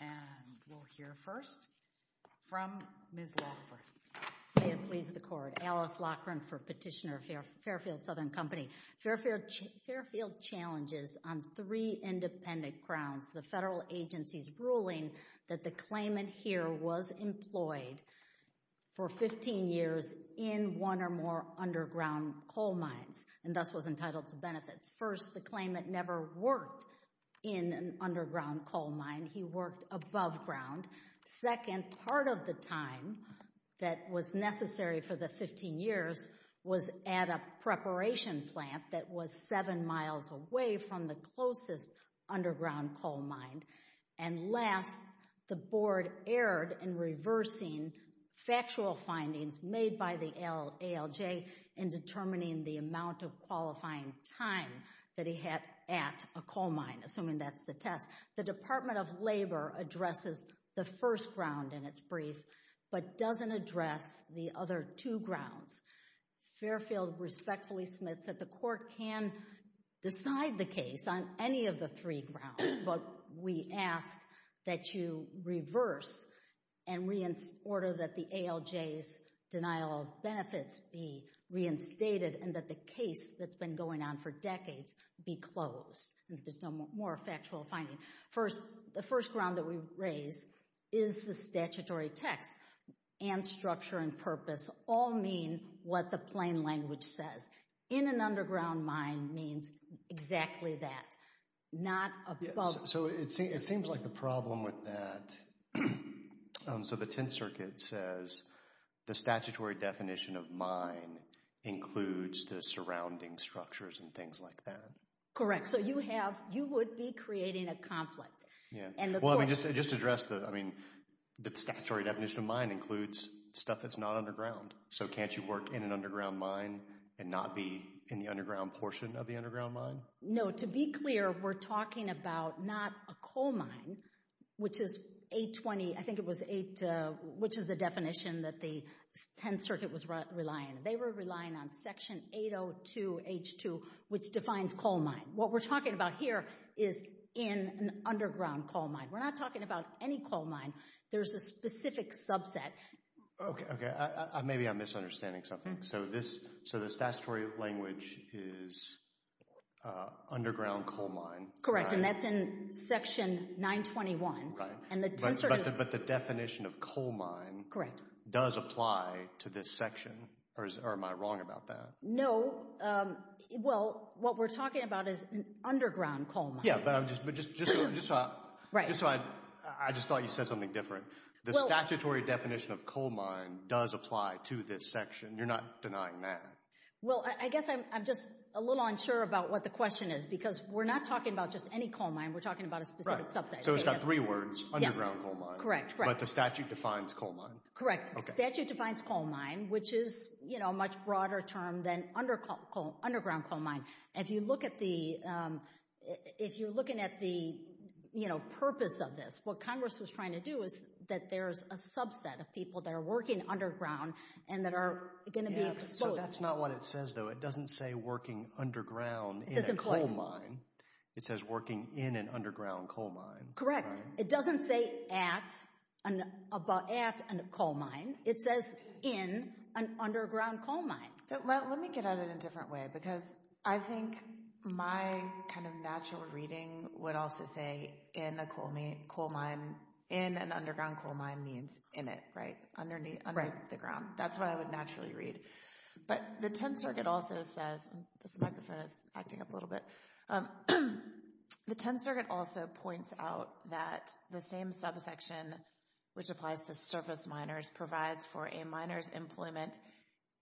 And we'll hear first from Ms. Loughran, may it please the court, Alice Loughran for Petitioner of Fairfield Southern Company. Fairfield challenges on three independent grounds. The federal agency's ruling that the claimant here was employed for 15 years in one or more underground coal mines and thus was entitled to benefits. First, the claimant never worked in an underground coal mine. He worked above ground. Second, part of the time that was necessary for the 15 years was at a preparation plant that was seven miles away from the closest underground coal mine. And last, the board erred in reversing factual findings made by the ALJ in determining the amount of qualifying time that he had at a coal mine, assuming that's the test. The Department of Labor addresses the first ground in its brief, but doesn't address the other two grounds. Fairfield respectfully submits that the court can decide the case on any of the three grounds, but we ask that you reverse and order that the ALJ's denial of benefits be reinstated and that the case that's been going on for decades be closed and that there's no more factual finding. The first ground that we raise is the statutory text and structure and purpose all mean what the plain language says. In an underground mine means exactly that, not above. So it seems like the problem with that, so the Tenth Circuit says the statutory definition of mine includes the surrounding structures and things like that. Correct. Correct. So you have, you would be creating a conflict. Well, I mean, just to address the, I mean, the statutory definition of mine includes stuff that's not underground. So can't you work in an underground mine and not be in the underground portion of the underground mine? No. To be clear, we're talking about not a coal mine, which is 820, I think it was eight, which is the definition that the Tenth Circuit was relying. They were relying on section 802H2, which defines coal mine. What we're talking about here is in an underground coal mine. We're not talking about any coal mine. There's a specific subset. Okay. Maybe I'm misunderstanding something. So this, so the statutory language is underground coal mine. Correct. And that's in section 921. Right. And the Tenth Circuit- But the definition of coal mine- Correct. Does apply to this section, or am I wrong about that? No. So, well, what we're talking about is an underground coal mine. Yeah, but I'm just, just so I, I just thought you said something different. The statutory definition of coal mine does apply to this section. You're not denying that. Well, I guess I'm just a little unsure about what the question is, because we're not talking about just any coal mine. We're talking about a specific subset. Right. So it's got three words. Yes. Underground coal mine. Correct, correct. But the statute defines coal mine. Correct. The statute defines coal mine, which is, you know, a much broader term than underground coal mine. If you look at the, if you're looking at the, you know, purpose of this, what Congress was trying to do is that there's a subset of people that are working underground and that are going to be exposed- Yeah, but so that's not what it says, though. It doesn't say working underground in a coal mine. It says working in an underground coal mine. Correct. It doesn't say at, at a coal mine. It says in an underground coal mine. Let me get at it in a different way, because I think my kind of natural reading would also say in a coal mine, in an underground coal mine means in it, right, underneath, under the ground. That's what I would naturally read. But the 10th Circuit also says, and this microphone is acting up a little bit, the 10th Circuit also points out that the same subsection, which applies to surface miners, provides for a miner's employment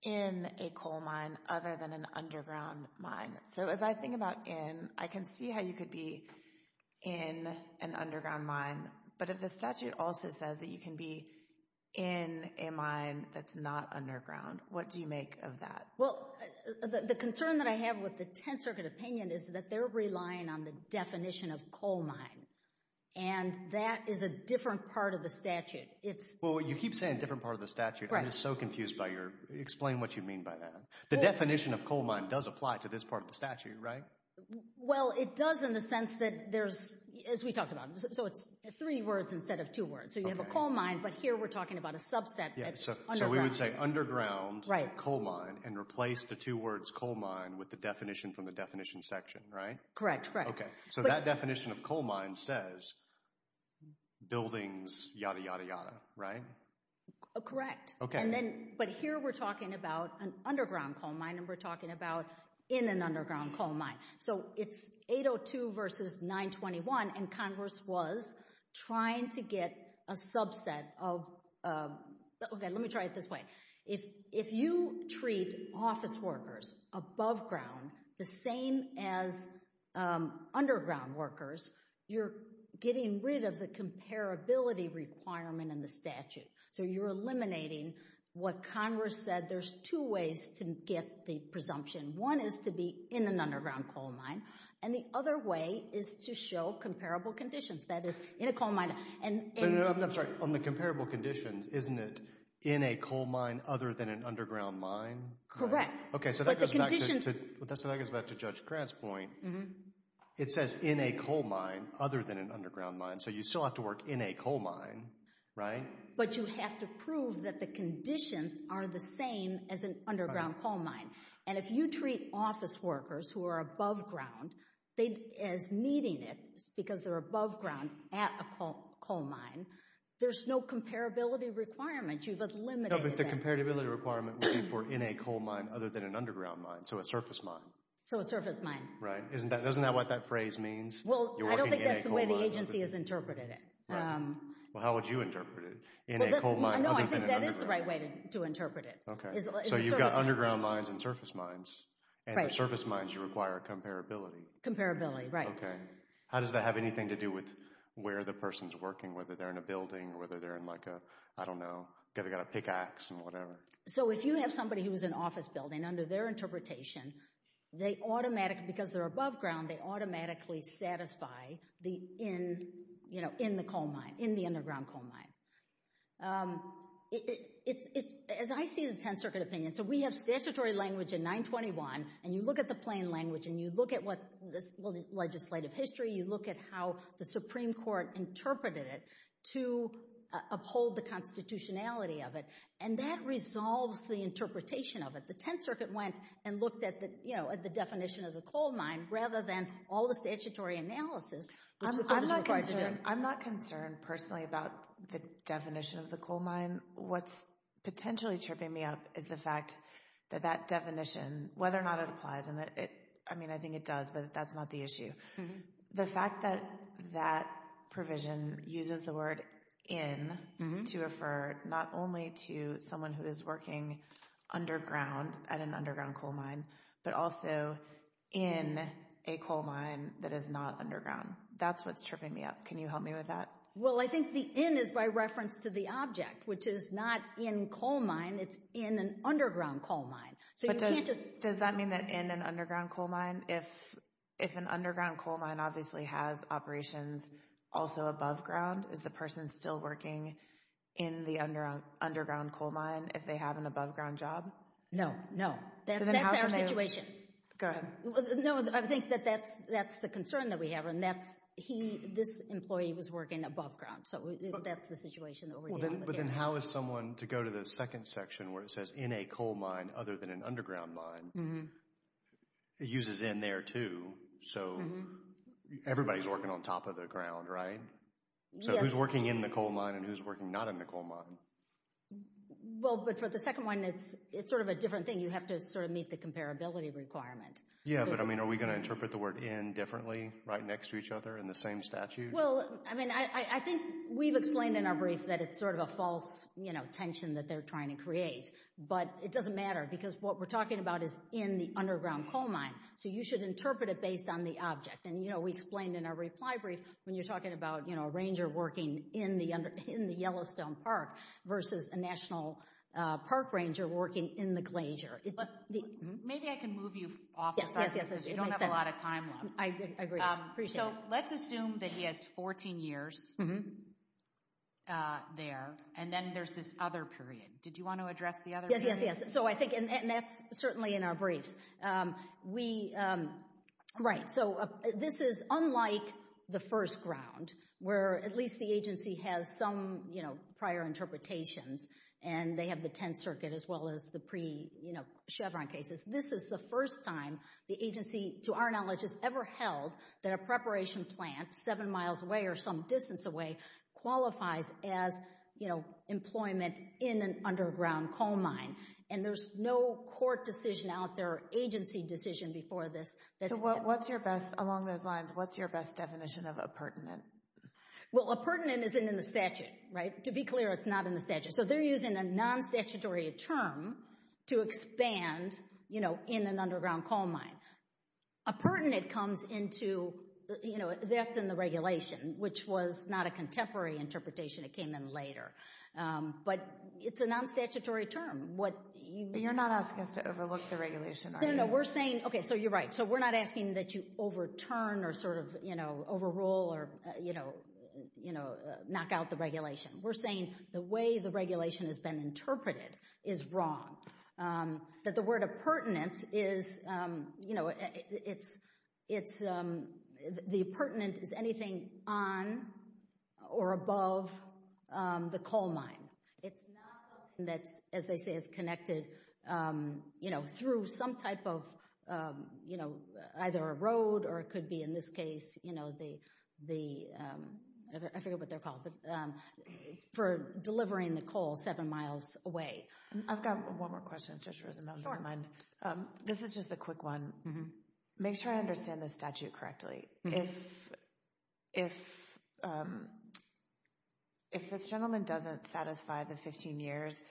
in a coal mine other than an underground mine. So as I think about in, I can see how you could be in an underground mine, but if the statute also says that you can be in a mine that's not underground, what do you make of that? Well, the concern that I have with the 10th Circuit opinion is that they're relying on the definition of coal mine, and that is a different part of the statute. It's... Well, you keep saying different part of the statute. Right. I'm just so confused by your... Explain what you mean by that. The definition of coal mine does apply to this part of the statute, right? Well, it does in the sense that there's, as we talked about, so it's three words instead of two words. Okay. So you have a coal mine, but here we're talking about a subset that's underground. Yeah. So, so we would say underground... Right. ...coal mine and replace the two words coal mine with the definition from the definition section, right? Correct. So that definition of coal mine says buildings, yada, yada, yada, right? Correct. Okay. And then, but here we're talking about an underground coal mine, and we're talking about in an underground coal mine. So it's 802 versus 921, and Congress was trying to get a subset of... Okay, let me try it this way. If you treat office workers above ground the same as underground workers, you're getting rid of the comparability requirement in the statute. So you're eliminating what Congress said. There's two ways to get the presumption. One is to be in an underground coal mine, and the other way is to show comparable conditions. That is, in a coal mine and a... No, no, no. I'm sorry. So on the comparable conditions, isn't it in a coal mine other than an underground mine? Correct. Okay, so that goes back to Judge Grant's point. It says in a coal mine other than an underground mine. So you still have to work in a coal mine, right? But you have to prove that the conditions are the same as an underground coal mine. And if you treat office workers who are above ground as needing it because they're above ground at a coal mine, there's no comparability requirement. You've eliminated that. No, but the comparability requirement would be for in a coal mine other than an underground mine. So a surface mine. So a surface mine. Right. Isn't that what that phrase means? You're working in a coal mine. Well, I don't think that's the way the agency has interpreted it. Right. Well, how would you interpret it? In a coal mine other than an underground... No, I think that is the right way to interpret it. Okay. So you've got underground mines and surface mines, and for surface mines you require comparability. Comparability, right. Okay. How does that have anything to do with where the person's working, whether they're in a building or whether they're in like a, I don't know, they've got a pickaxe and whatever. So if you have somebody who's in an office building, under their interpretation, they automatically, because they're above ground, they automatically satisfy the in, you know, in the coal mine, in the underground coal mine. As I see the 10th Circuit opinion, so we have statutory language in 921, and you look at the plain language and you look at what this legislative history, you look at how the Supreme Court interpreted it to uphold the constitutionality of it, and that resolves the interpretation of it. The 10th Circuit went and looked at the, you know, at the definition of the coal mine rather than all the statutory analysis, which the court is required to do. I'm not concerned personally about the definition of the coal mine. What's potentially tripping me up is the fact that that definition, whether or not it applies and it, I mean, I think it does, but that's not the issue. The fact that that provision uses the word in to refer not only to someone who is working underground at an underground coal mine, but also in a coal mine that is not underground. That's what's tripping me up. Can you help me with that? Well, I think the in is by reference to the object, which is not in coal mine, it's in an underground coal mine. But does that mean that in an underground coal mine, if an underground coal mine obviously has operations also above ground, is the person still working in the underground coal mine if they have an above ground job? No. No. That's our situation. Go ahead. No, I think that that's the concern that we have, and that's, he, this employee was working above ground. So that's the situation that we're dealing with here. So then how is someone, to go to the second section where it says in a coal mine other than an underground mine, it uses in there too, so everybody's working on top of the ground, right? Yes. So who's working in the coal mine and who's working not in the coal mine? Well, but for the second one, it's sort of a different thing. You have to sort of meet the comparability requirement. Yeah, but I mean, are we going to interpret the word in differently, right next to each other in the same statute? Well, I mean, I think we've explained in our brief that it's sort of a false tension that they're trying to create, but it doesn't matter because what we're talking about is in the underground coal mine. So you should interpret it based on the object, and we explained in our reply brief when you're talking about a ranger working in the Yellowstone Park versus a National Park ranger working in the glazier. Maybe I can move you off the subject because you don't have a lot of time left. I agree. Appreciate it. So let's assume that he has 14 years there, and then there's this other period. Did you want to address the other period? Yes, yes, yes. So I think, and that's certainly in our briefs, we, right, so this is unlike the first ground where at least the agency has some, you know, prior interpretations, and they have the Tenth Circuit as well as the pre-Chevron cases. This is the first time the agency, to our knowledge, has ever held that a preparation plant seven miles away or some distance away qualifies as, you know, employment in an underground coal mine. And there's no court decision out there or agency decision before this. So what's your best, along those lines, what's your best definition of appurtenant? Well, appurtenant isn't in the statute, right? To be clear, it's not in the statute. So they're using a non-statutory term to expand, you know, in an underground coal mine. Appurtenant comes into, you know, that's in the regulation, which was not a contemporary interpretation. It came in later. But it's a non-statutory term. What you... You're not asking us to overlook the regulation, are you? No, no. We're saying, okay, so you're right. So we're not asking that you overturn or sort of, you know, overrule or, you know, knock out the regulation. We're saying the way the regulation has been interpreted is wrong. That the word appurtenant is, you know, it's... The appurtenant is anything on or above the coal mine. It's not something that's, as they say, is connected, you know, through some type of, you know, either a road or it could be, in this case, you know, the, I forget what they're called, but for delivering the coal seven miles away. I've got one more question, if Judge Rosenbaum doesn't mind. Sure. This is just a quick one. Make sure I understand the statute correctly. If this gentleman doesn't satisfy the 15 years,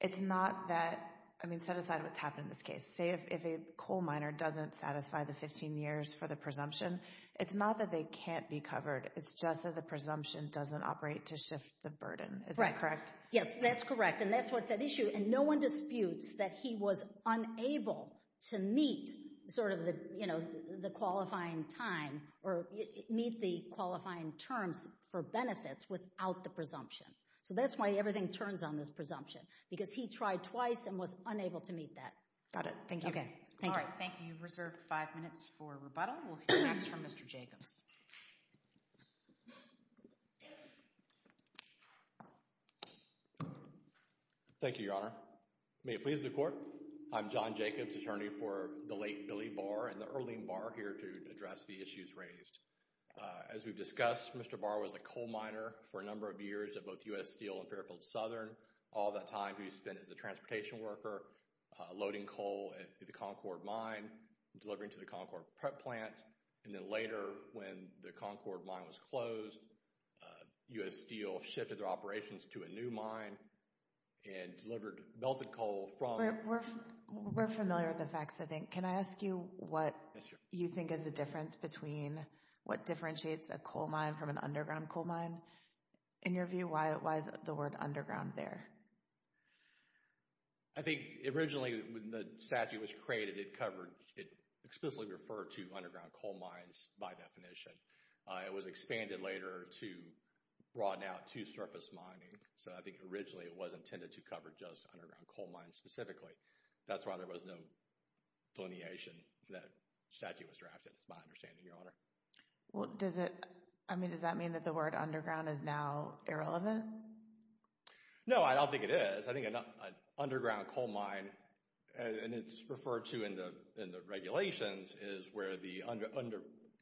it's not that... I mean, set aside what's happened in this case. If a coal miner doesn't satisfy the 15 years for the presumption, it's not that they can't be covered. It's just that the presumption doesn't operate to shift the burden. Is that correct? Yes, that's correct. And that's what's at issue. And no one disputes that he was unable to meet sort of the, you know, the qualifying time or meet the qualifying terms for benefits without the presumption. So that's why everything turns on this presumption, because he tried twice and was unable to meet that. Got it. Thank you. Thank you. Thank you. You've reserved five minutes for rebuttal. We'll hear next from Mr. Jacobs. Thank you, Your Honor. May it please the Court. I'm John Jacobs, attorney for the late Billy Barr and the early Barr here to address the issues raised. As we've discussed, Mr. Barr was a coal miner for a number of years at both U.S. Steel and Fairfield Southern. All that time he spent as a transportation worker loading coal at the Concord Mine, delivering to the Concord plant, and then later when the Concord Mine was closed, U.S. Steel shifted their operations to a new mine and delivered melted coal from... We're familiar with the facts, I think. Can I ask you what you think is the difference between what differentiates a coal mine from an underground coal mine? And in your view, why is the word underground there? I think originally when the statute was created, it covered... It explicitly referred to underground coal mines by definition. It was expanded later to broaden out to surface mining. So I think originally it was intended to cover just underground coal mines specifically. That's why there was no delineation that statute was drafted, is my understanding, Your Honor. Well, does it... I mean, does that mean that the word underground is now irrelevant? No, I don't think it is. I think an underground coal mine, and it's referred to in the regulations, is where the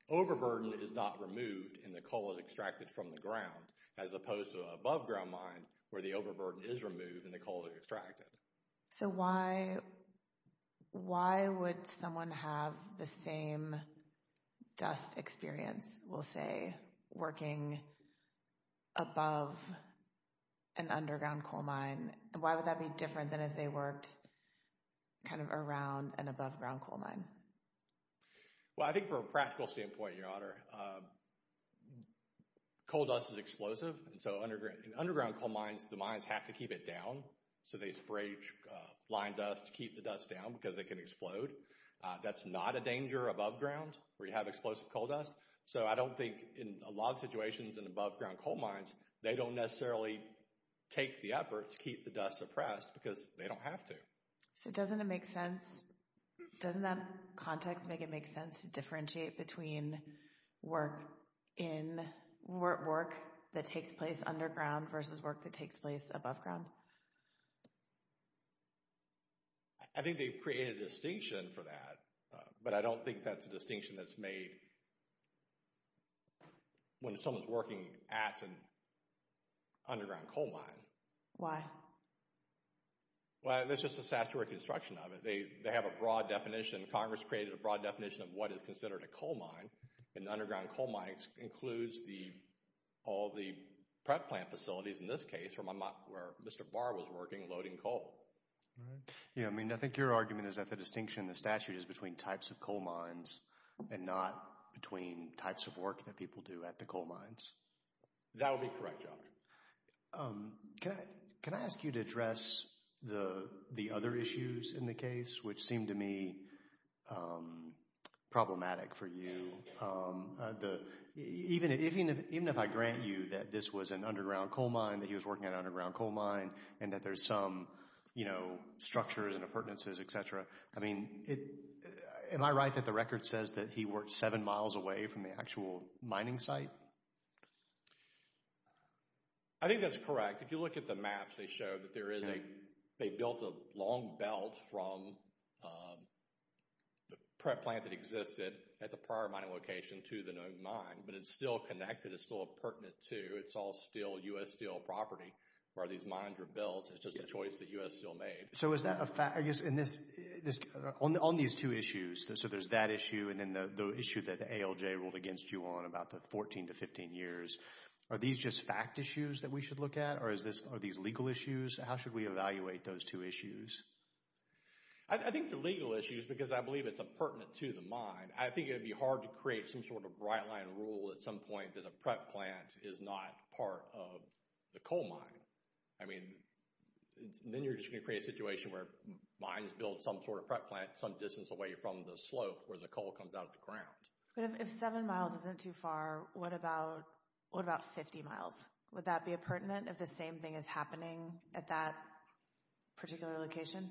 overburden is not removed and the coal is extracted from the ground, as opposed to an aboveground mine where the overburden is removed and the coal is extracted. So why would someone have the same dust experience, we'll say, working above an underground coal mine? Why would that be different than if they worked kind of around an aboveground coal mine? Well, I think from a practical standpoint, Your Honor, coal dust is explosive. And so in underground coal mines, the mines have to keep it down. So they spray line dust to keep the dust down because it can explode. That's not a danger above ground where you have explosive coal dust. So I don't think in a lot of situations in aboveground coal mines, they don't necessarily take the effort to keep the dust suppressed because they don't have to. So doesn't it make sense, doesn't that context make it make sense to differentiate between work in, work that takes place underground versus work that takes place above ground? I think they've created a distinction for that, but I don't think that's a distinction that's made when someone's working at an underground coal mine. Why? Well, there's just a statutory construction of it. They have a broad definition, Congress created a broad definition of what is considered a coal mine. And the underground coal mine includes all the prep plant facilities, in this case, where Mr. Barr was working loading coal. Yeah, I mean, I think your argument is that the distinction in the statute is between types of coal mines and not between types of work that people do at the coal mines. That would be correct, Your Honor. Can I ask you to address the other issues in the case, which seemed to me problematic for you. Even if I grant you that this was an underground coal mine, that he was working at an underground coal mine, and that there's some, you know, structures and appurtenances, et cetera. I mean, am I right that the record says that he worked seven miles away from the actual mining site? I think that's correct. If you look at the maps, they show that there is a, they built a long belt from the prep site at the prior mining location to the known mine, but it's still connected, it's still a pertinent to, it's all steel, U.S. steel property, where these mines were built. It's just a choice that U.S. Steel made. So is that a fact, I guess, on these two issues, so there's that issue and then the issue that the ALJ ruled against you on about the 14 to 15 years, are these just fact issues that we should look at? Or is this, are these legal issues? How should we evaluate those two issues? I think they're legal issues because I believe it's a pertinent to the mine. I think it would be hard to create some sort of right line rule at some point that a prep plant is not part of the coal mine. I mean, then you're just going to create a situation where mines build some sort of prep plant some distance away from the slope where the coal comes out of the ground. But if seven miles isn't too far, what about, what about 50 miles? Would that be a pertinent if the same thing is happening at that particular location?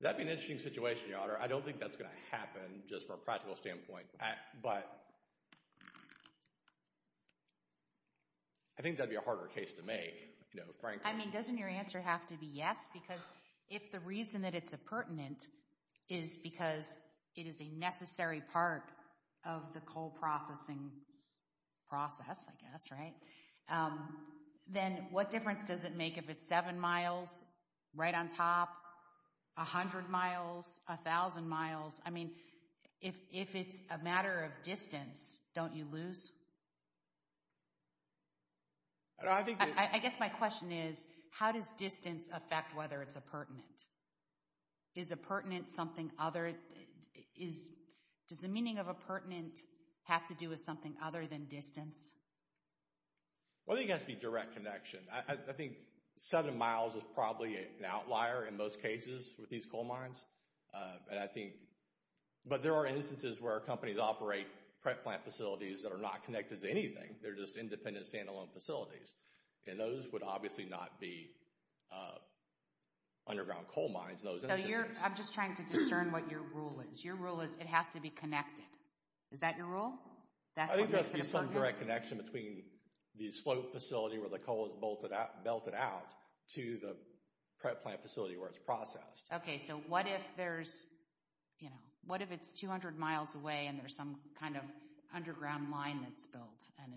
That'd be an interesting situation, Your Honor. I don't think that's going to happen just from a practical standpoint. But I think that'd be a harder case to make, you know, frankly. I mean, doesn't your answer have to be yes? Because if the reason that it's a pertinent is because it is a necessary part of the coal processing process, I guess, right? Then what difference does it make if it's seven miles right on top, 100 miles, 1,000 miles? I mean, if it's a matter of distance, don't you lose? I guess my question is, how does distance affect whether it's a pertinent? Is a pertinent something other? Does the meaning of a pertinent have to do with something other than distance? Well, I think it has to be direct connection. I think seven miles is probably an outlier in most cases with these coal mines. But there are instances where companies operate prep plant facilities that are not connected to anything. They're just independent, standalone facilities. And those would obviously not be underground coal mines in those instances. I'm just trying to discern what your rule is. Your rule is it has to be connected. Is that your rule? I think there has to be some direct connection between the slope facility where the coal is belted out to the prep plant facility where it's processed. Okay, so what if there's, you know, what if it's 200 miles away and there's some kind of underground mine that's built and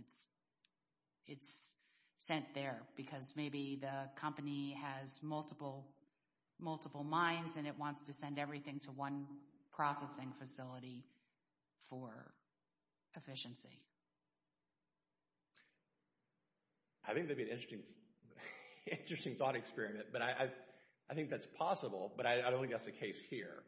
it's sent there because maybe the company has multiple multiple mines and it wants to send everything to one processing facility for efficiency? I think that'd be an interesting thought experiment. But I think that's possible. But I don't think that's the case here.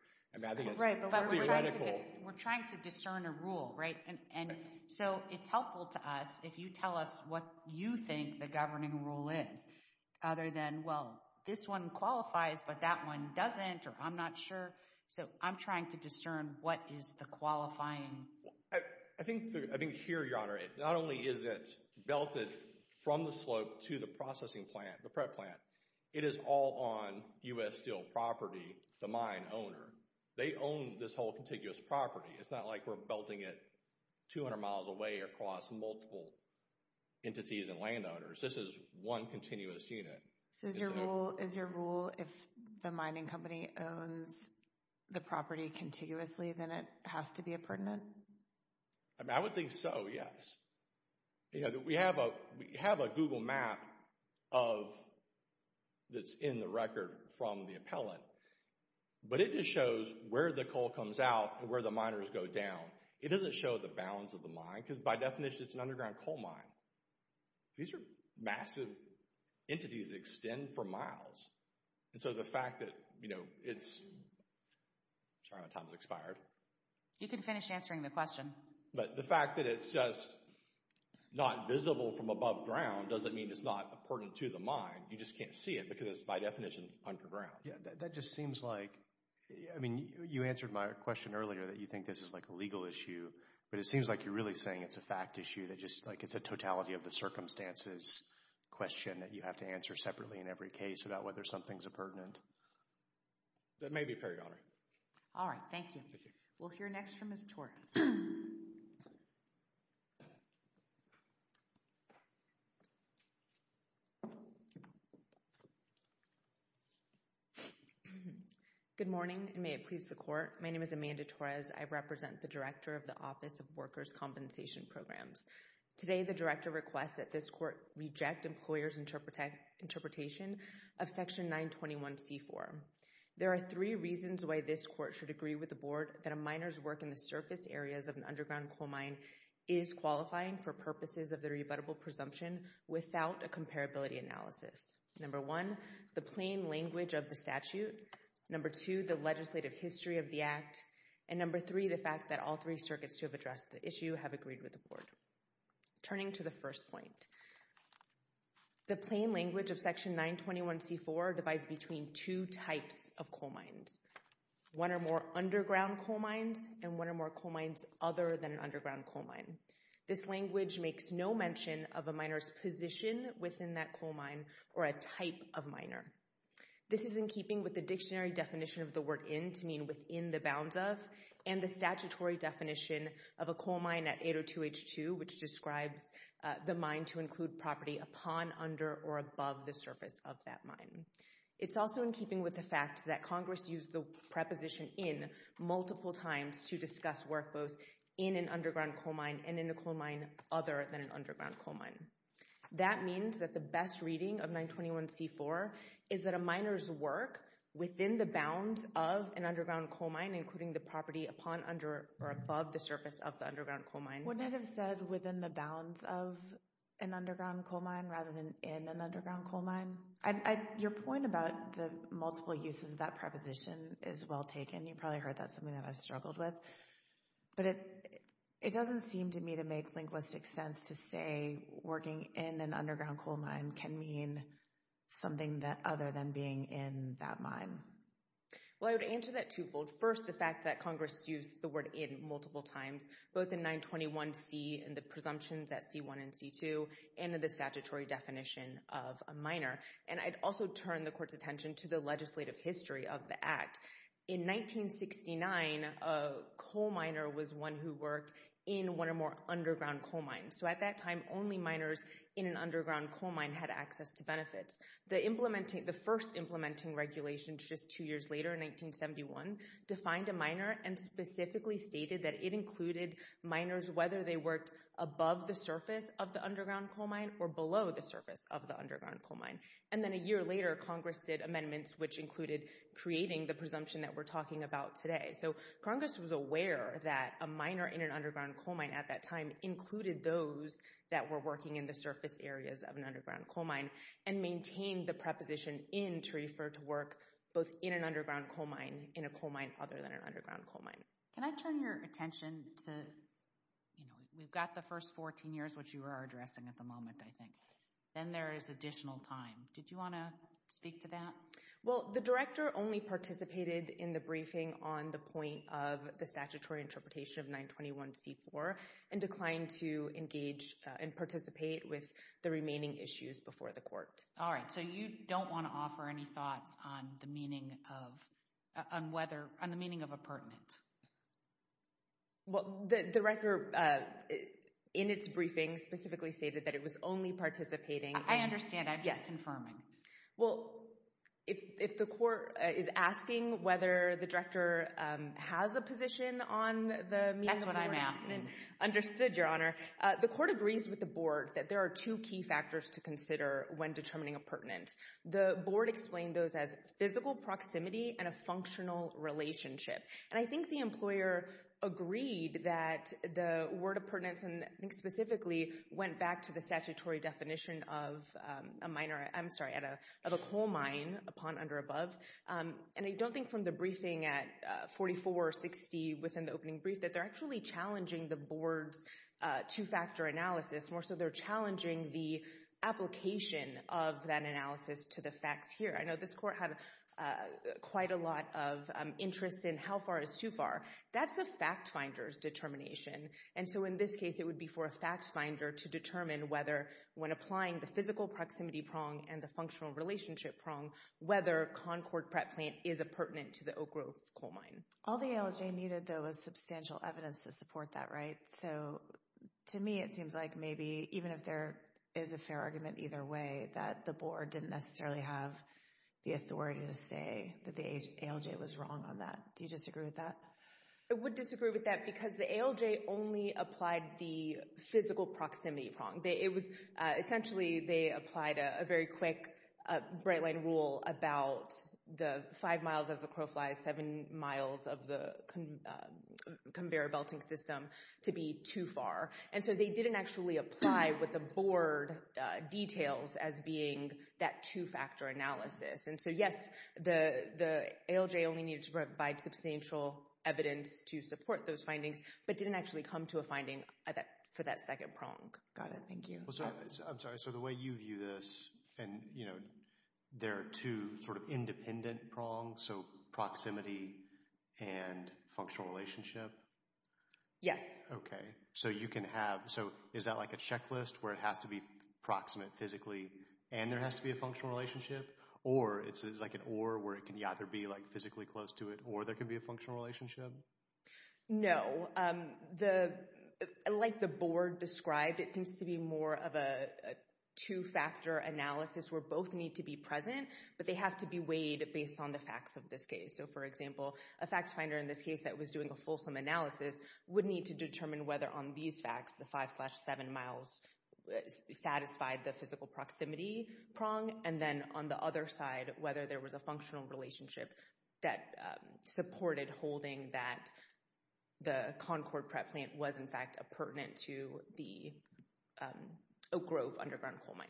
Right, but we're trying to discern a rule, right? And so it's helpful to us if you tell us what you think the governing rule is. Other than, well, this one qualifies, but that one doesn't, or I'm not sure. So I'm trying to discern what is the qualifying. I think here, Your Honor, it not only is it belted from the slope to the processing plant, the prep plant, it is all on U.S. Steel property, the mine owner. They own this whole contiguous property. It's not like we're belting it 200 miles away across multiple entities and landowners. This is one continuous unit. So is your rule if the mining company owns the property contiguously, then it has to be a pertinent? I would think so, yes. We have a Google map that's in the record from the appellant. But it just shows where the coal comes out and where the miners go down. It doesn't show the bounds of the mine because by definition, it's an underground coal mine. These are massive entities that extend for miles. And so the fact that, you know, it's... Sorry, my time has expired. You can finish answering the question. But the fact that it's just not visible from above ground doesn't mean it's not pertinent to the mine. You just can't see it because it's by definition underground. That just seems like... I mean, you answered my question earlier that you think this is like a legal issue, but it seems like you're really saying it's a fact issue that just like it's a totality of the circumstances question that you have to answer separately in every case about whether something's a pertinent. That may be fair, Your Honor. All right. Thank you. Thank you. We'll hear next from Ms. Torres. Good morning and may it please the Court. My name is Amanda Torres. I represent the Director of the Office of Workers' Compensation Programs. Today, the Director requests that this Court reject employers' interpretation of Section 921c4. There are three reasons why this Court should agree with the Board that a miner's work in the surface areas of an underground coal mine is qualifying for purposes of the rebuttable presumption without a comparability analysis. Number one, the plain language of the statute. Number two, the legislative history of the act. And number three, the fact that all three circuits who have addressed the issue have agreed with the Board. Turning to the first point, the plain language of Section 921c4 divides between two types of coal mines, one or more underground coal mines and one or more coal mines other than an underground coal mine. This language makes no mention of a miner's position within that coal mine or a type of miner. This is in keeping with the dictionary definition of the word in to mean within the bounds of and the statutory definition of a coal mine at 802h2 which describes the mine to include property upon, under, or above the surface of that mine. It's also in keeping with the fact that Congress used the preposition in multiple times to discuss work both in an underground coal mine and in a coal mine other than an underground coal mine. That means that the best reading of 921c4 is that a miner's work within the bounds of an underground coal mine including the property upon, under, or above the surface of the underground coal mine. Wouldn't it have said within the bounds of an underground coal mine rather than in an underground coal mine? Your point about the multiple uses of that preposition is well taken. You probably heard that's something that I've struggled with, but it doesn't seem to me to make linguistic sense to say working in an underground coal mine can mean something that other than being in that mine. Well, I would answer that twofold. First, the fact that Congress used the word in multiple times both in 921c and the presumptions at c1 and c2 and in the statutory definition of a miner. And I'd also turn the court's attention to the legislative history of the act. In 1969, a coal miner was one who worked in one or more underground coal mines. So at that time, only miners in an underground coal mine had access to benefits. The first implementing regulations just two years later in 1971 defined a miner and specifically stated that it included miners whether they worked above the surface of the underground coal mine or below the surface of the underground coal mine. And then a year later, Congress did amendments which included creating the presumption that we're talking about today. So Congress was aware that a miner in an underground coal mine at that time included those that were working in the surface areas of an underground coal mine and maintained the preposition in to refer to work both in an underground coal mine in a coal mine other than an underground coal mine. Can I turn your attention to, you know, we've got the first 14 years, which you are addressing at the moment, I think. Then there is additional time. Did you want to speak to that? Well, the director only participated in the briefing on the point of the statutory interpretation of 921c4 and declined to engage and participate with the remaining issues before the court. All right. So you don't want to offer any thoughts on the meaning of, on whether, on the meaning of appurtenant. Well, the director, in its briefing, specifically stated that it was only participating. I understand. I'm just confirming. Well, if the court is asking whether the director has a position on the meaning of appurtenant. That's what I'm asking. Understood, Your Honor. The court agrees with the board that there are two key factors to consider when determining appurtenant. The board explained those as physical proximity and a functional relationship. And I think the employer agreed that the word of pertinence, and I think specifically, went back to the statutory definition of a minor, I'm sorry, of a coal mine, upon, under, above. And I don't think from the briefing at 4460, within the opening brief, that they're actually challenging the board's two-factor analysis, more so they're challenging the application of that analysis to the facts here. I know this court had quite a lot of interest in how far is too far. That's a fact finder's determination. And so, in this case, it would be for a fact finder to determine whether, when applying the physical proximity prong and the functional relationship prong, whether Concord PrEP plant is appurtenant to the Oak Grove coal mine. All the ALJ needed, though, was substantial evidence to support that, right? So, to me, it seems like maybe, even if there is a fair argument either way, that the board didn't necessarily have the authority to say that the ALJ was wrong on that. Do you disagree with that? I would disagree with that, because the ALJ only applied the physical proximity prong. It was, essentially, they applied a very quick bright-line rule about the five miles as the crow flies, seven miles of the conveyor belting system to be too far. And so, they didn't actually apply what the board details as being that two-factor analysis. And so, yes, the ALJ only needed to provide substantial evidence to support those findings, but didn't actually come to a finding for that second prong. Got it. Thank you. I'm sorry. So, the way you view this, and there are two sort of independent prongs, so proximity and functional relationship? Yes. Okay. So, you can have, so is that like a checklist where it has to be proximate physically and there has to be a functional relationship? Or it's like an or where it can either be like physically close to it or there can be a functional relationship? No. Like the board described, it seems to be more of a two-factor analysis where both need to be present, but they have to be weighed based on the facts of this case. So, for example, a fact finder in this case that was doing a fulsome analysis would need to determine whether on these facts, the 5 slash 7 miles satisfied the physical proximity prong, and then on the other side, whether there was a functional relationship that supported holding that the Concord PrEP plant was in fact pertinent to the Oak Grove underground coal mine.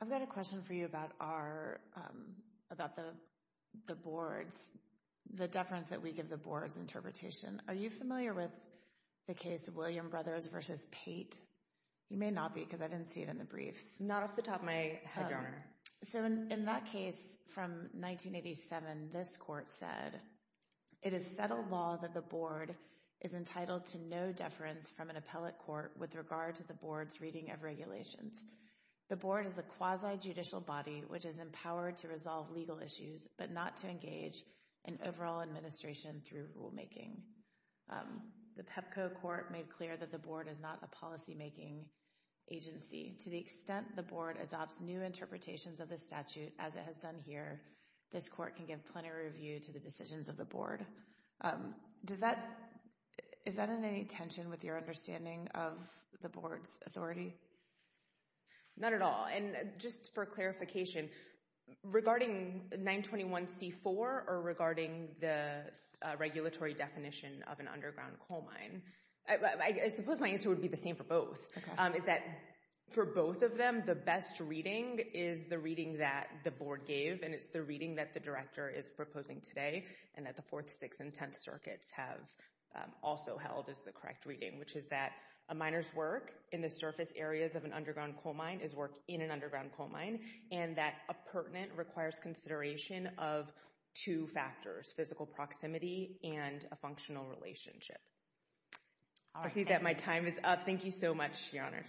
I've got a question for you about our, about the board's, the deference that we give the board's interpretation. Are you familiar with the case of William Brothers versus Pate? You may not be because I didn't see it in the briefs. Not off the top of my head, Your Honor. So in that case from 1987, this court said, it is settled law that the board is entitled to no deference from an appellate court with regard to the board's reading of regulations. The board is a quasi-judicial body which is empowered to resolve legal issues, but not to engage in overall administration through rulemaking. The PEPCO court made clear that the board is not a policymaking agency. To the extent the board adopts new interpretations of the statute as it has done here, this court can give plenty of review to the decisions of the board. Does that, is that in any tension with your understanding of the board's authority? Not at all. And just for clarification, regarding 921C4 or regarding the regulatory definition of an underground coal mine, I suppose my answer would be the same for both. Is that for both of them, the best reading is the reading that the board gave and it's the reading that the director is proposing today and that the Fourth, Sixth, and Tenth Circuits have also held as the correct reading, which is that a miner's work in the surface areas of an underground coal mine is work in an underground coal mine and that a pertinent requires consideration of two factors, physical proximity and a functional relationship. I see that my time is up. Thank you so much, Your Honors.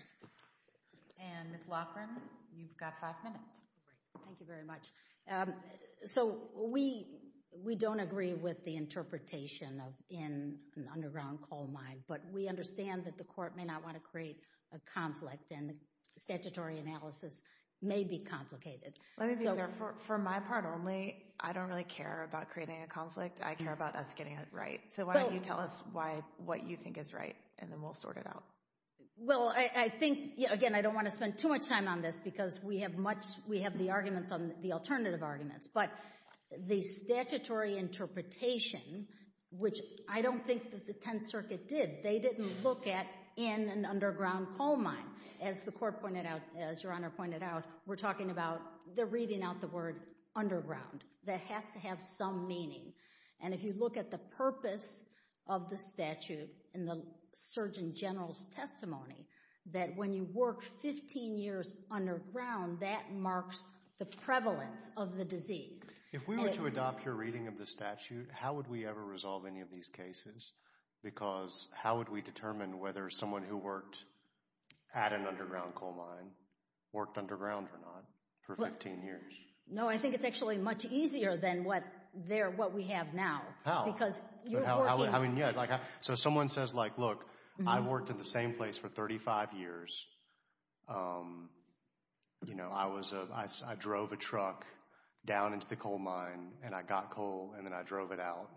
And Ms. Loughran, you've got five minutes. Thank you very much. So we don't agree with the interpretation of in an underground coal mine, but we understand that the court may not want to create a conflict and the statutory analysis may be complicated. Let me be clear, for my part only, I don't really care about creating a conflict. I care about us getting it right. So why don't you tell us why, what you think is right, and then we'll sort it out. Well I think, again, I don't want to spend too much time on this because we have much, we have the arguments on the alternative arguments, but the statutory interpretation, which I don't think that the Tenth Circuit did. They didn't look at in an underground coal mine. As the court pointed out, as Your Honor pointed out, we're talking about, they're reading out the word underground. That has to have some meaning. And if you look at the purpose of the statute in the Surgeon General's testimony, that when you work 15 years underground, that marks the prevalence of the disease. If we were to adopt your reading of the statute, how would we ever resolve any of these cases? Because how would we determine whether someone who worked at an underground coal mine worked underground or not for 15 years? No, I think it's actually much easier than what we have now. Because you're working. I mean, yeah, so someone says like, look, I worked in the same place for 35 years. You know, I drove a truck down into the coal mine and I got coal and then I drove it out.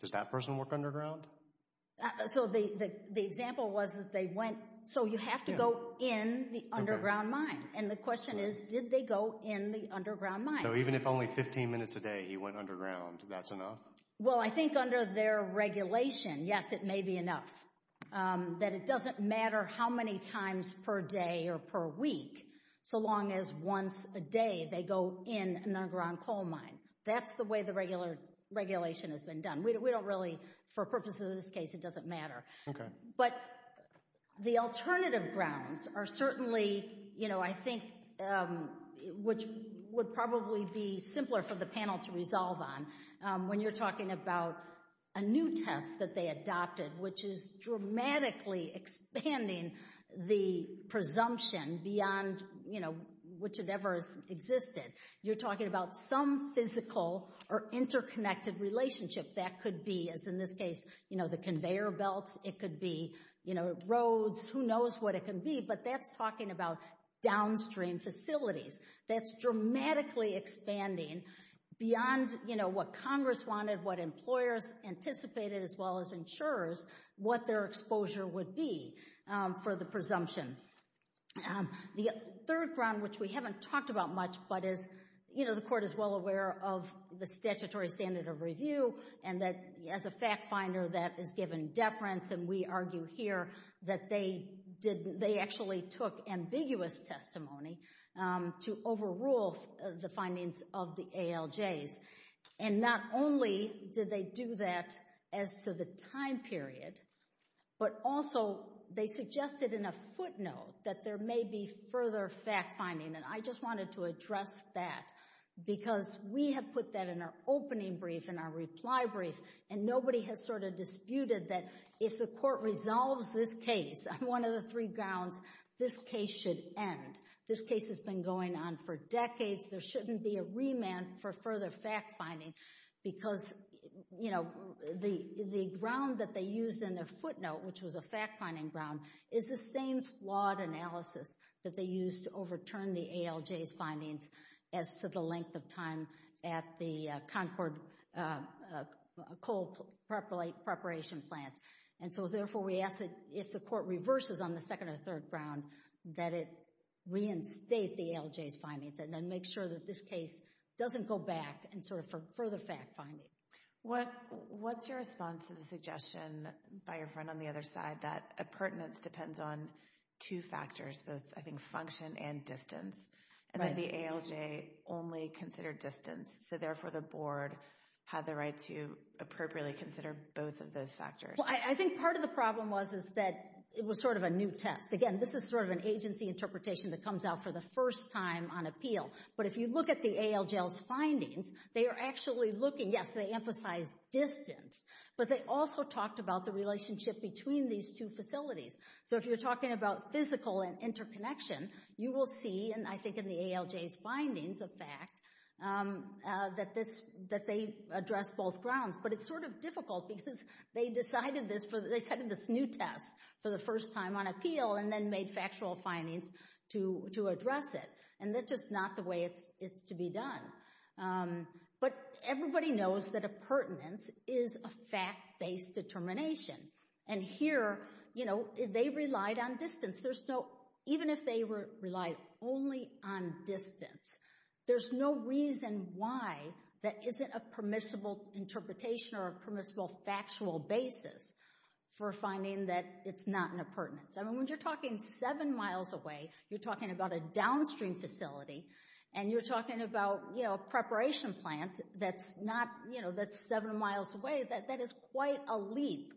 Does that person work underground? So the example was that they went, so you have to go in the underground mine. And the question is, did they go in the underground mine? So even if only 15 minutes a day he went underground, that's enough? Well, I think under their regulation, yes, it may be enough. That it doesn't matter how many times per day or per week, so long as once a day they go in an underground coal mine. That's the way the regular regulation has been done. We don't really, for purposes of this case, it doesn't matter. But the alternative grounds are certainly, you know, I think, which would probably be simpler for the panel to resolve on when you're talking about a new test that they adopted, which is dramatically expanding the presumption beyond, you know, which it ever has existed. You're talking about some physical or interconnected relationship that could be, as in this case, you know, the conveyor belts, it could be, you know, roads, who knows what it can be. But that's talking about downstream facilities. That's dramatically expanding beyond, you know, what Congress wanted, what employers anticipated as well as insurers, what their exposure would be for the presumption. The third ground, which we haven't talked about much, but is, you know, the Court is well aware of the statutory standard of review and that as a fact finder that is given deference and we argue here that they actually took ambiguous testimony to overrule the findings of the ALJs. And not only did they do that as to the time period, but also they suggested in a footnote that there may be further fact finding and I just wanted to address that because we have put that in our opening brief, in our reply brief, and nobody has sort of disputed that if the Court resolves this case on one of the three grounds, this case should end. This case has been going on for decades. There shouldn't be a remand for further fact finding because, you know, the ground that they used in their footnote, which was a fact finding ground, is the same flawed analysis that they used to overturn the ALJs findings as to the length of time at the Concord Coal Preparation Plant. And so therefore we ask that if the Court reverses on the second or third ground that it reinstate the ALJs findings and then make sure that this case doesn't go back and sort of for further fact finding. What's your response to the suggestion by your friend on the other side that a pertinence depends on two factors, both I think function and distance, and that the ALJ only considered distance so therefore the Board had the right to appropriately consider both of those factors? Well, I think part of the problem was that it was sort of a new test. Again, this is sort of an agency interpretation that comes out for the first time on appeal. But if you look at the ALJs findings, they are actually looking, yes, they emphasize distance, but they also talked about the relationship between these two facilities. So if you're talking about physical interconnection, you will see, and I think in the ALJs findings of fact, that they address both grounds. But it's sort of difficult because they decided this for, they started this new test for the first time on appeal and then made factual findings to address it. And that's just not the way it's to be done. But everybody knows that a pertinence is a fact-based determination. And here, you know, they relied on distance. There's no, even if they relied only on distance, there's no reason why that isn't a permissible interpretation or a permissible factual basis for finding that it's not in a pertinence. I mean, when you're talking seven miles away, you're talking about a downstream facility and you're talking about, you know, a preparation plant that's not, you know, that's seven miles away, that is quite a leap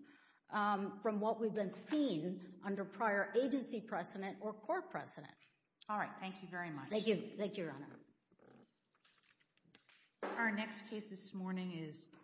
from what we've been seeing under prior agency precedent or court precedent. All right. Thank you very much. Thank you. Thank you, Your Honor. Thank you. Thank you. Thank you. Our next case this morning is...